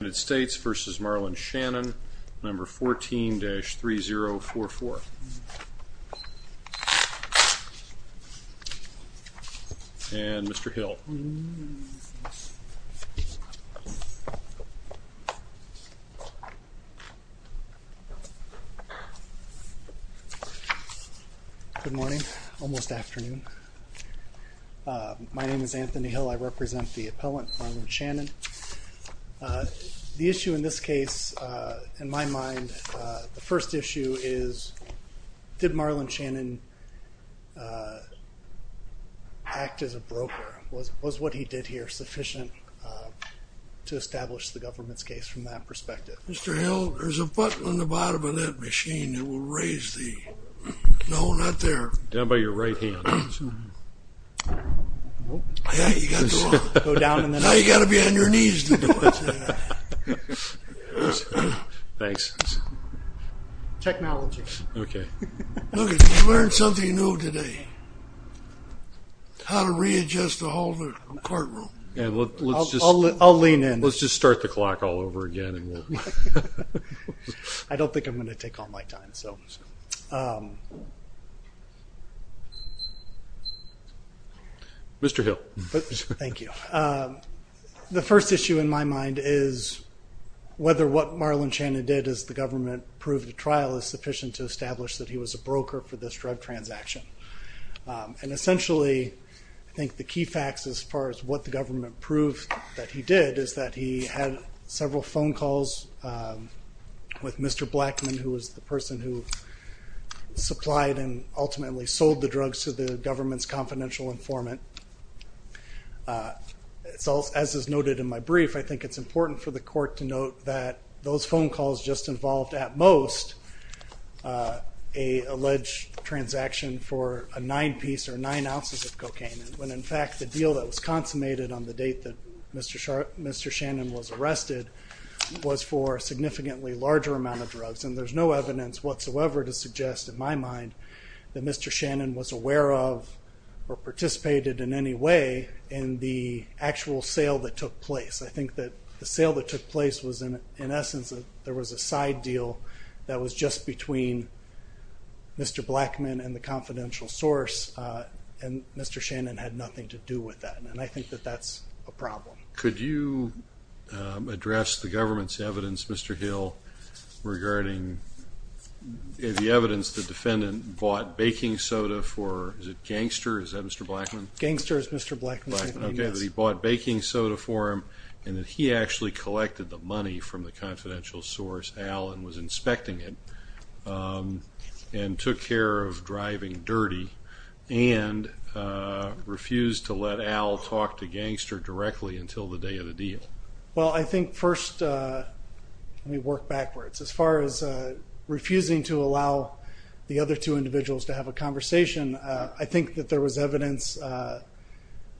number 14-3044. And Mr. Hill. Good morning, almost afternoon. My name is Anthony Hill. I represent the issue in this case, in my mind, the first issue is did Marlon Shannon act as a broker? Was what he did here sufficient to establish the government's case from that perspective? Mr. Hill, there's a button on the bottom of that machine that will raise the... No, not there. Down by your right hand. Now you got to be on your knees to do it. Thanks. Technology. Okay. Look, you learned something new today. How to readjust the whole courtroom. I'll lean in. Let's just start the clock all over again. I don't think I'm going to take all my time. Mr. Hill. Thank you. The first issue in my mind is whether what Marlon Shannon did as the government proved the trial is sufficient to establish that he was a broker for this drug transaction. And essentially, I think the key facts as far as what the government proved that he did is that he had several phone calls with Mr. Blackman, who was the person who supplied and ultimately sold the drugs to the government's confidential informant. So as is noted in my brief, I think it's important for the court to note that those phone calls just involved, at most, a alleged transaction for a nine-piece or nine ounces of cocaine, when in fact the deal that was Mr. Shannon was arrested was for a significantly larger amount of drugs. And there's no evidence whatsoever to suggest, in my mind, that Mr. Shannon was aware of or participated in any way in the actual sale that took place. I think that the sale that took place was in essence, there was a side deal that was just between Mr. Blackman and the confidential source, and Mr. Shannon had nothing to do with that. And I think that that's a problem. Could you address the government's evidence, Mr. Hill, regarding the evidence the defendant bought baking soda for, is it Gangster, is that Mr. Blackman? Gangster is Mr. Blackman. Okay, he bought baking soda for him, and then he actually collected the money from the confidential source, Alan was inspecting it, and took care of driving dirty, and refused to let Al talk to Gangster directly until the day of the deal. Well I think first, let me work backwards, as far as refusing to allow the other two individuals to have a conversation, I think that there was evidence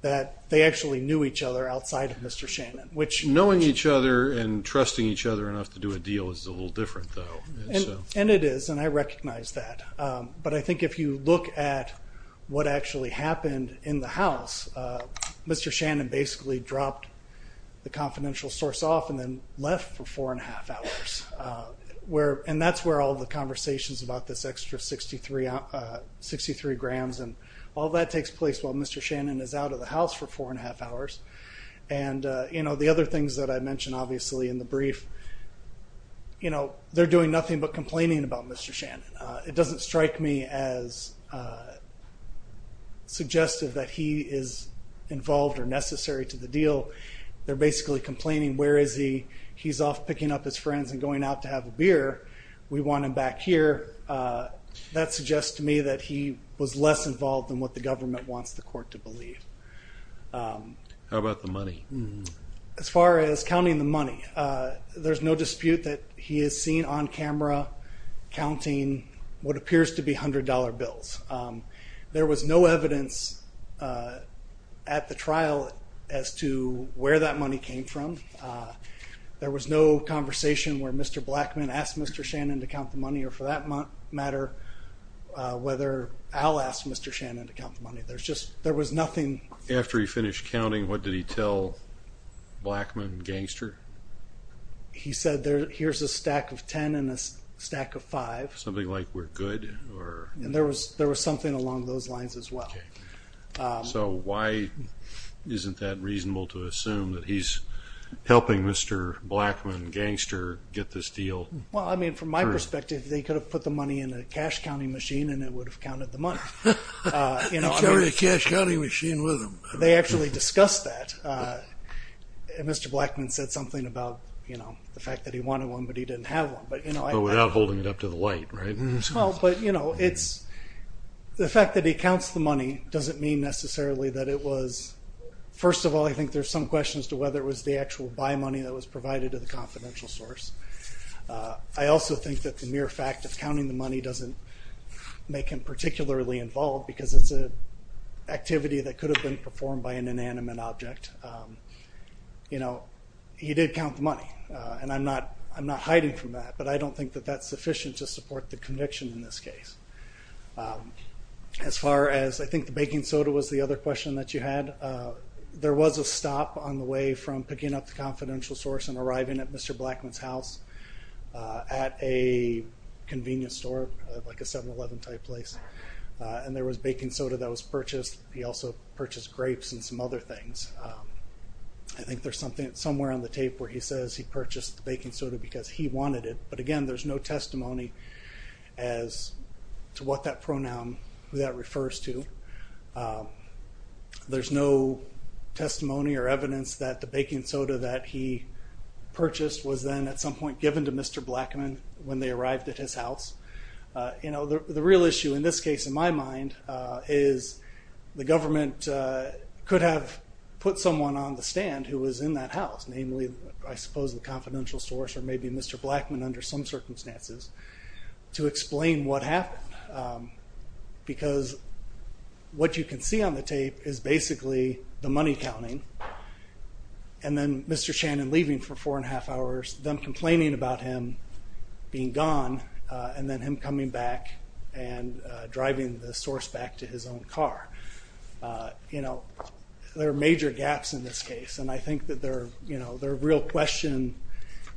that they actually knew each other outside of Mr. Shannon, which... Knowing each other and trusting each other enough to do a deal is a little different though. And it is, and I recognize that. But I think if you look at what actually happened in the house, Mr. Shannon basically dropped the confidential source off, and then left for four and a half hours. Where, and that's where all the conversations about this extra 63 grams, and all that takes place while Mr. Shannon is out of the house for four and a half hours. And you know the other things that I mentioned obviously in the brief, you know, they're doing nothing but complaining about Mr. Shannon. It doesn't strike me as suggestive that he is involved or necessary to the deal. They're basically complaining, where is he? He's off picking up his friends and going out to have a beer. We want him back here. That suggests to me that he was less involved than what the government wants the court to believe. How about the money? As far as counting the money, there's no dispute that he is seen on camera counting what appears to be hundred dollar bills. There was no evidence at the trial as to where that money came from. There was no conversation where Mr. Blackman asked Mr. Shannon to count the money, or for that matter, whether Al asked Mr. Shannon to count the money. There's just, there was nothing. After he finished counting, what did he tell Blackman and Gangster? He said, here's a stack of ten and a stack of five. Something like, we're good? And there was something along those lines as well. So why isn't that reasonable to assume that he's helping Mr. Blackman and Gangster get this deal? Well, I mean, from my perspective, they could have put the money in a cash counting machine and it would have counted the money. You know, they actually discussed that. Mr. Blackman said something about, you know, the fact that he wanted one but he didn't have one. But without holding it up to the light, right? Well, but you know, it's, the fact that he counts the money doesn't mean necessarily that it was, first of all, I think there's some question as to whether it was the actual buy money that was provided to the confidential source. I also think that the mere fact of counting the money doesn't make him particularly involved because it's a activity that could have been performed by an inanimate object. You know, he did count the money and I'm not hiding from that but I don't think that that's sufficient to support the conviction in this case. As far as, I think the baking soda was the other question that you had, there was a stop on the way from picking up the confidential source and arriving at Mr. Blackman's house at a convenience store like a 7-Eleven type place and there was baking soda that was purchased. He also purchased grapes and some other things. I think there's something somewhere on the tape where he says he purchased the baking soda because he wanted it but again there's no testimony as to what that pronoun, who that refers to. There's no testimony or evidence that the baking soda that he purchased was then at some given to Mr. Blackman when they arrived at his house. You know, the real issue in this case in my mind is the government could have put someone on the stand who was in that house, namely I suppose the confidential source or maybe Mr. Blackman under some circumstances to explain what happened because what you can see on the tape is basically the money counting and then Mr. Shannon leaving for four and a half hours, them complaining about him being gone and then him coming back and driving the source back to his own car. You know, there are major gaps in this case and I think that they're, you know, they're a real question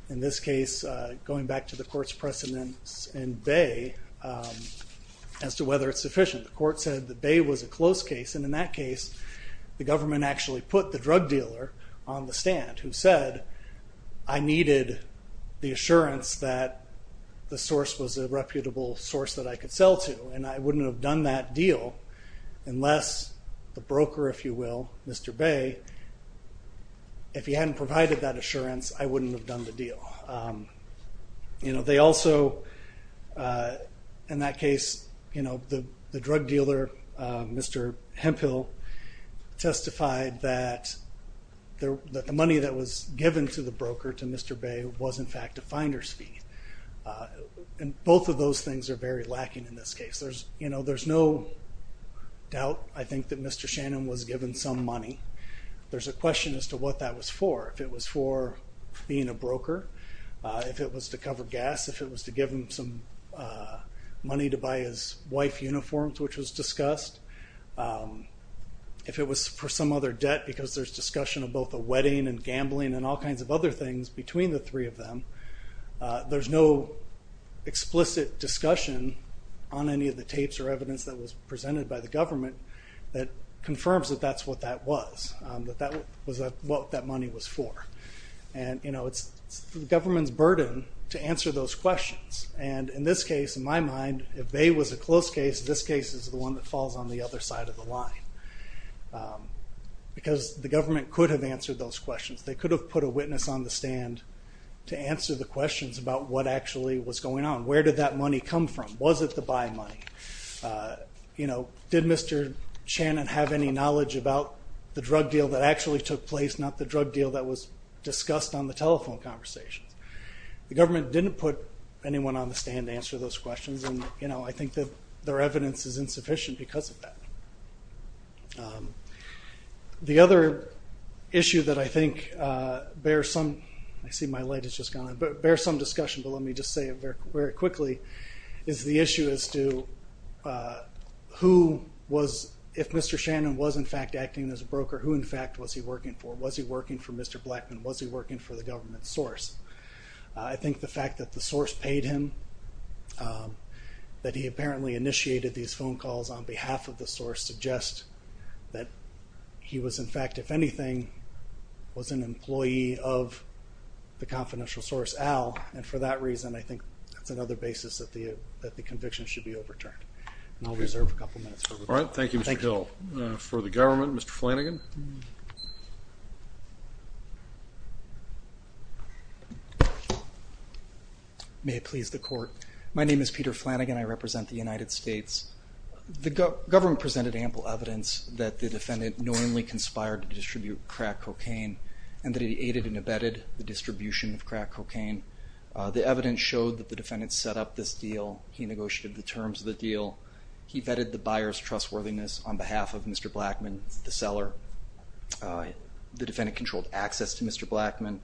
in this case going back to the court's precedence in Bay as to whether it's sufficient. The court said that Bay was a close case and in that I needed the assurance that the source was a reputable source that I could sell to and I wouldn't have done that deal unless the broker, if you will, Mr. Bay, if he hadn't provided that assurance I wouldn't have done the deal. You know, they also, in that case, you know, the drug dealer Mr. Hemphill testified that the money that was given to the broker, to Mr. Bay, was in fact a finder's fee and both of those things are very lacking in this case. There's, you know, there's no doubt I think that Mr. Shannon was given some money. There's a question as to what that was for. If it was for being a broker, if it was to cover gas, if it was to give him some money to buy his wife uniforms, which was discussed, if it was for some other debt because there's discussion of both the wedding and gambling and all kinds of other things between the three of them, there's no explicit discussion on any of the tapes or evidence that was presented by the government that confirms that that's what that was, that that was what that money was for. And, you know, it's the government's burden to answer those questions and in this case, in my mind, if Bay was a close case, this case is the one that falls on the other side of the line because the government could have answered those questions. They could have put a witness on the stand to answer the questions about what actually was going on. Where did that money come from? Was it the buy money? You know, did Mr. Shannon have any knowledge about the drug deal that actually took place, not the drug deal that was discussed on the telephone conversations? The government didn't put anyone on the stand to answer those questions because of that. The other issue that I think bears some, I see my light is just gone, but bears some discussion, but let me just say it very quickly, is the issue as to who was, if Mr. Shannon was in fact acting as a broker, who in fact was he working for? Was he working for Mr. Blackman? Was he working for the government source? I think the fact that the source paid him, that he apparently initiated these phone calls on behalf of the source, suggests that he was in fact, if anything, was an employee of the confidential source, Al, and for that reason I think that's another basis that the conviction should be overturned. And I'll reserve a couple minutes. All right, thank you Mr. Hill. For the government, Mr. Flanagan. May it please the court. My name is Peter Flanagan. I represent the United States. The government presented ample evidence that the defendant knowingly conspired to distribute crack cocaine and that he aided and abetted the distribution of crack cocaine. The evidence showed that the defendant set up this deal. He negotiated the terms of the deal. He abetted the buyer's trustworthiness on behalf of Mr. Blackman, the seller. The defendant controlled access to Mr. Blackman.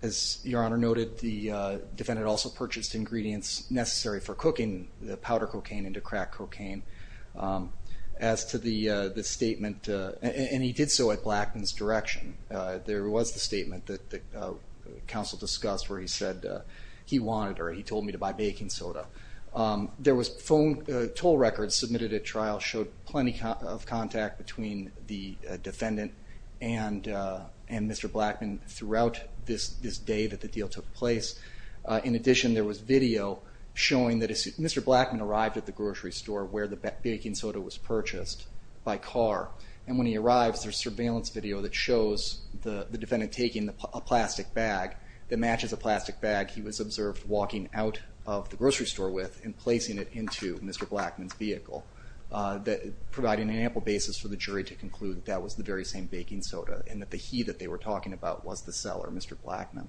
As Your Honor noted, the defendant also purchased ingredients necessary for cooking the powder cocaine into crack cocaine. As to the statement, and he did so at Blackman's direction, there was the statement that the counsel discussed where he said he wanted or he told me to buy baking soda. There was phone toll records submitted at trial showed plenty of contact between the defendant and Mr. Blackman throughout this day that the deal took place. In addition, there was video showing that Mr. Blackman arrived at the grocery store where the baking soda was purchased by car and when he arrives there's surveillance video that shows the defendant taking a plastic bag that matches a plastic bag. He was observed walking out of the grocery store with and placing it into Mr. Blackman's vehicle, providing an ample basis for the jury to conclude that was the very same baking soda and that the he that they were talking about was the seller, Mr. Blackman.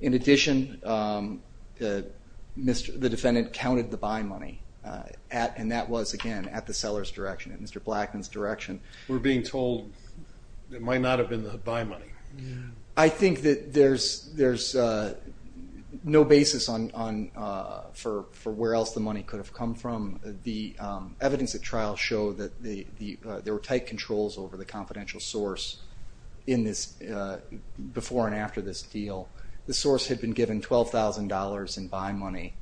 In addition, the defendant counted the buy money and that was again at the seller's direction, at Mr. Blackman's direction. We're being told it might not have been the buy money. I think that there's no basis on for where else the money could have come from. The evidence at trial showed that there were tight controls over the confidential source in this before and after this deal. The source had been given $12,000 in buy money.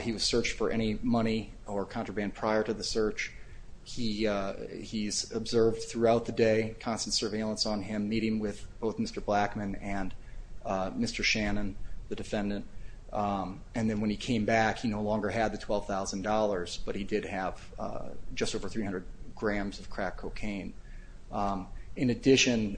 He was searched for any money or contraband prior to the search. He's observed throughout the day, constant surveillance on him, meeting with both Mr. Blackman and Mr. Shannon, the defendant, and then when he came back he no longer had the $12,000 but he did have just over 300 grams of crack cocaine. In addition,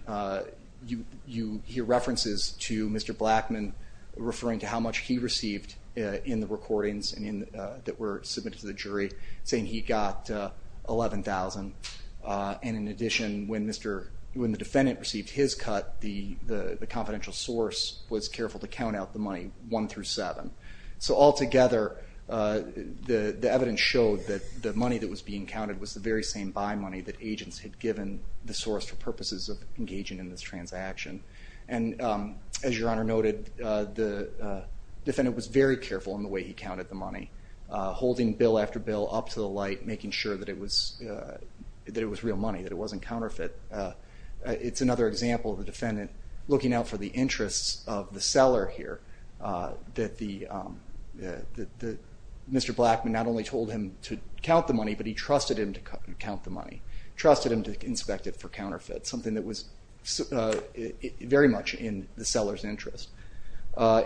you hear references to Mr. Blackman referring to how much he received in the recordings that were submitted to the jury, saying he got $11,000. In addition, when the defendant received his cut, the confidential source was careful to count out the money one through seven. So altogether, the evidence showed that the money that was being counted was the very same buy money that agents had given the source for purposes of engaging in this transaction. As your honor noted, the defendant was very careful in the way he counted the money, holding bill after bill up to the light making sure that it was real money, that it wasn't counterfeit. It's another example of the defendant looking out for the interests of the seller here, that Mr. Blackman not only told him to count the money but he trusted him to count the money, trusted him to inspect it for counterfeit, something that was very much in the seller's interest.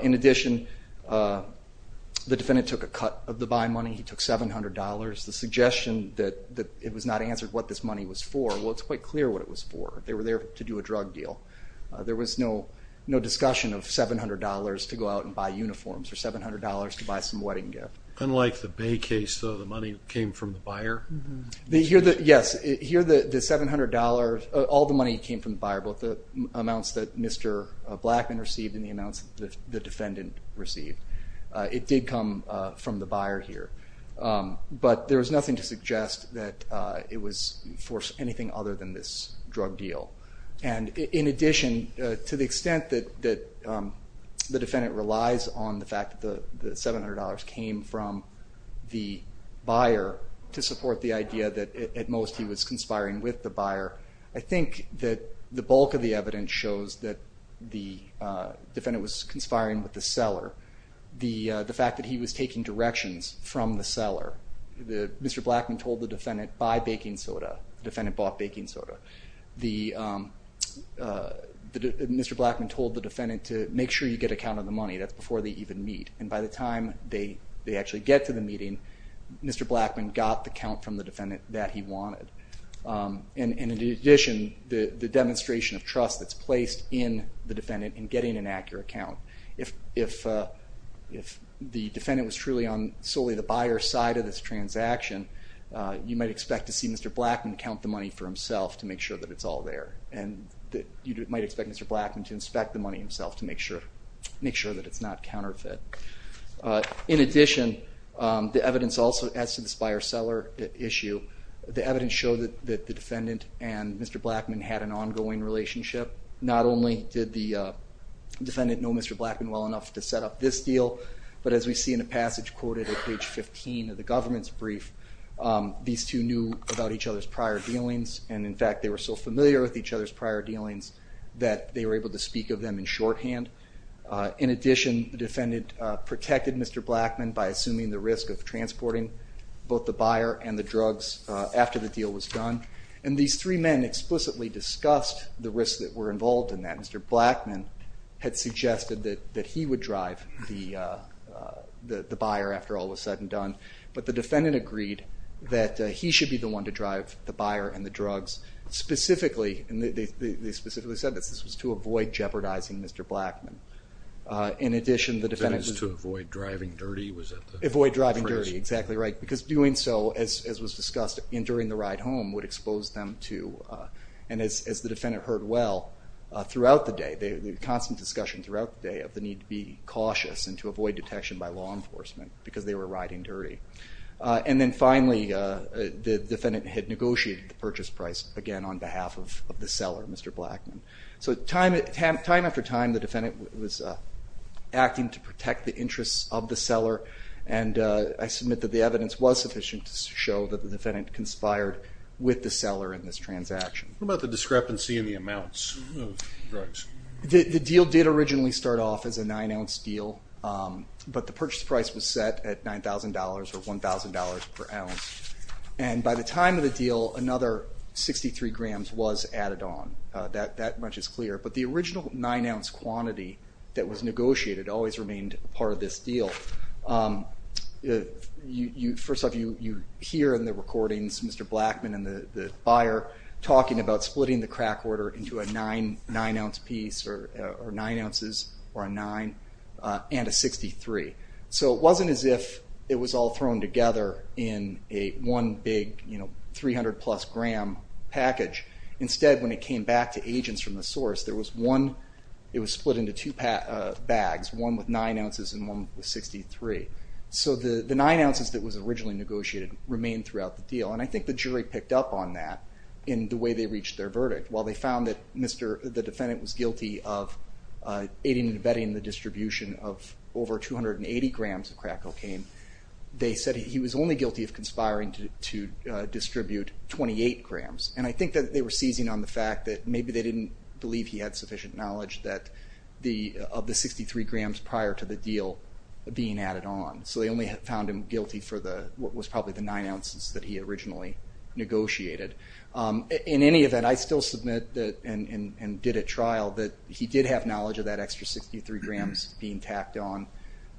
In addition, the suggestion that it was not answered what this money was for, well it's quite clear what it was for. They were there to do a drug deal. There was no discussion of $700 to go out and buy uniforms or $700 to buy some wedding gift. Unlike the Bay case, though, the money came from the buyer? Yes, here the $700, all the money came from the buyer, both the amounts that Mr. Blackman received and the amounts the defendant received. It did come from the seller. I'm not going to suggest that it was for anything other than this drug deal. And in addition, to the extent that the defendant relies on the fact that the $700 came from the buyer to support the idea that at most he was conspiring with the buyer, I think that the bulk of the evidence shows that the defendant was conspiring with the seller. The fact that he was taking directions from the buyer. Mr. Blackman told the defendant, buy baking soda. The defendant bought baking soda. Mr. Blackman told the defendant to make sure you get a count of the money. That's before they even meet. And by the time they actually get to the meeting, Mr. Blackman got the count from the defendant that he wanted. And in addition, the demonstration of trust that's placed in the defendant in getting an accurate count. If the defendant was truly on solely the buyer's side of this transaction, you might expect to see Mr. Blackman count the money for himself to make sure that it's all there. And you might expect Mr. Blackman to inspect the money himself to make sure that it's not counterfeit. In addition, the evidence also, as to the buyer-seller issue, the evidence showed that the defendant and Mr. Blackman had an ongoing relationship. Not only did the defendant know Mr. Blackman well enough to set up this deal, but as we see in the government's brief, these two knew about each other's prior dealings. And in fact, they were so familiar with each other's prior dealings that they were able to speak of them in shorthand. In addition, the defendant protected Mr. Blackman by assuming the risk of transporting both the buyer and the drugs after the deal was done. And these three men explicitly discussed the risks that were involved in that. Mr. Blackman had suggested that he would drive the buyer after all was said and done, but the defendant agreed that he should be the one to drive the buyer and the drugs. Specifically, and they specifically said this, this was to avoid jeopardizing Mr. Blackman. In addition, the defendant was to avoid driving dirty, was that the phrase? Avoid driving dirty, exactly right, because doing so, as was discussed during the ride home, would expose them to, and as the defendant heard well, throughout the day, the constant discussion throughout the day of the need to be cautious and to avoid detection by law enforcement, because they were riding dirty. And then finally, the defendant had negotiated the purchase price, again on behalf of the seller, Mr. Blackman. So time after time, the defendant was acting to protect the interests of the seller, and I submit that the evidence was sufficient to show that the defendant conspired with the seller in this transaction. What about the discrepancy in the amounts of drugs? The deal did originally start off as a nine ounce deal, but the purchase price was set at $9,000 or $1,000 per ounce, and by the time of the deal, another 63 grams was added on. That much is clear, but the original nine ounce quantity that was negotiated always remained part of this deal. First off, you hear in the recordings, Mr. Blackman and the buyer talking about splitting the crack order into a nine ounce piece, or nine ounces, or a nine, and a 63. So it wasn't as if it was all thrown together in a one big, you know, 300 plus gram package. Instead, when it came back to agents from the source, there was one, it was split into two bags, one with nine ounces and one with 63. So the nine ounces that was originally negotiated remained throughout the deal, and I think the jury picked up on that in the way they reached their verdict. While they found that the defendant was guilty of aiding and abetting the distribution of over 280 grams of crack cocaine, they said he was only guilty of conspiring to distribute 28 grams, and I think that they were seizing on the fact that maybe they didn't believe he had sufficient knowledge of the 63 grams prior to the deal being added on. So they only found him guilty for what was probably the nine ounces that he originally negotiated. In any event, I still submit that, and did a trial, that he did have knowledge of that extra 63 grams being tacked on,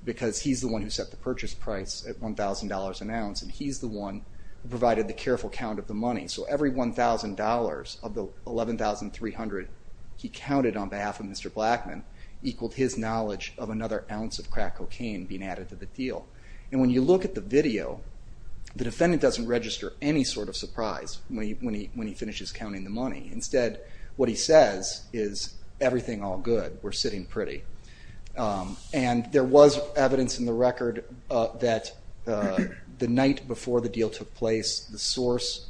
because he's the one who set the purchase price at $1,000 an ounce, and he's the one who provided the careful count of the money. So every $1,000 of the $11,300 he counted on behalf of Mr. Blackman equaled his knowledge of another ounce of crack cocaine being added to the deal. And when you look at the video, the defendant doesn't register any sort of surprise when he finishes counting the money. Instead, what he says is, everything all good, we're sitting pretty. And there was evidence in the record that the night before the deal took place, the source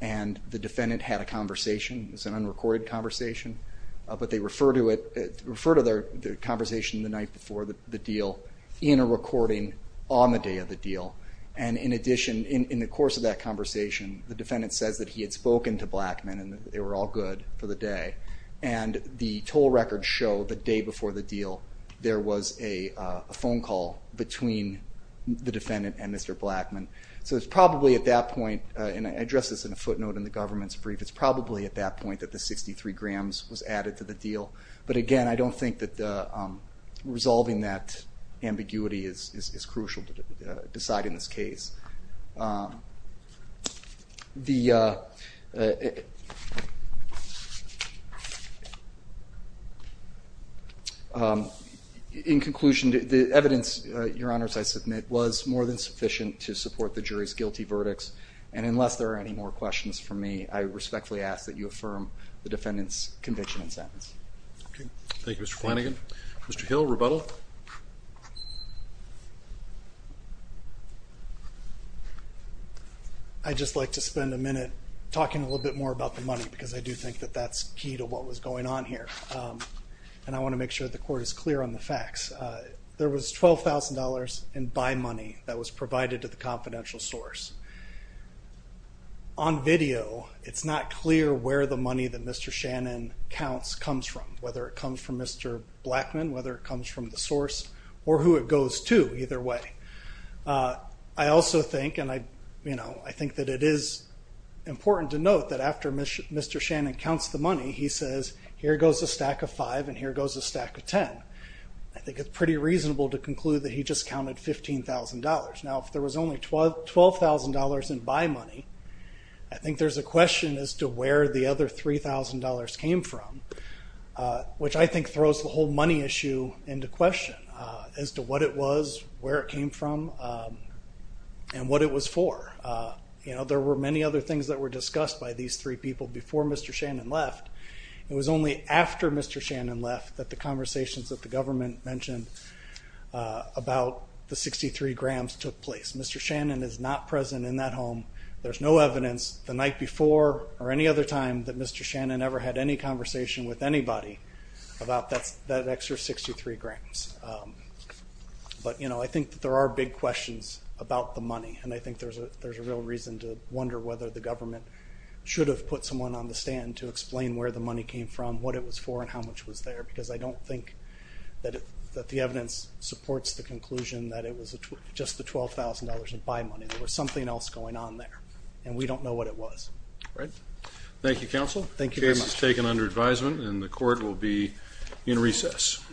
and the defendant had a conversation. It was an unrecorded conversation, but they refer to it, refer to their conversation the night before the deal in a recording on the day of the deal. And in addition, in the course of that conversation, the defendant says that he had spoken to Blackman and they were all good for the day. And the toll records show the day before the deal, there was a phone call between the defendant and Mr. Blackman. So it's probably at that point, and I address this in a footnote in the government's brief, it's probably at that point that the 63 grams was added to the deal. But again, I don't think that resolving that would decide in this case. In conclusion, the evidence, Your Honors, I submit was more than sufficient to support the jury's guilty verdicts. And unless there are any more questions from me, I respectfully ask that you affirm the defendant's conviction and sentence. Thank you, Mr. Flanagan. Mr. Hill, rebuttal. I'd just like to spend a minute talking a little bit more about the money because I do think that that's key to what was going on here. And I want to make sure the court is clear on the facts. There was $12,000 in buy money that was provided to the confidential source. On video, it's not clear where the money that Mr. Shannon counts comes from, whether it comes from Mr. Blackman, whether it comes from the source, or who it goes to, either way. I also think, and I, you know, I think that it is important to note that after Mr. Shannon counts the money, he says, here goes a stack of five and here goes a stack of 10. I think it's pretty reasonable to conclude that he just counted $15,000. Now, if there was only $12,000 in buy money, I think there's a question as to where the other $3,000 came from, which I think throws the whole money issue into question as to what it was, where it came from, and what it was for. You know, there were many other things that were discussed by these three people before Mr. Shannon left. It was only after Mr. Shannon left that the conversations that the government mentioned about the 63 grams took place. Mr. Shannon is not another time that Mr. Shannon ever had any conversation with anybody about that extra 63 grams. But, you know, I think that there are big questions about the money, and I think there's a real reason to wonder whether the government should have put someone on the stand to explain where the money came from, what it was for, and how much was there, because I don't think that the evidence supports the conclusion that it was just the $12,000 in buy money. There was something else going on there, and we don't know what it was. Thank you, counsel. The case is taken under advisement, and the court will be in recess.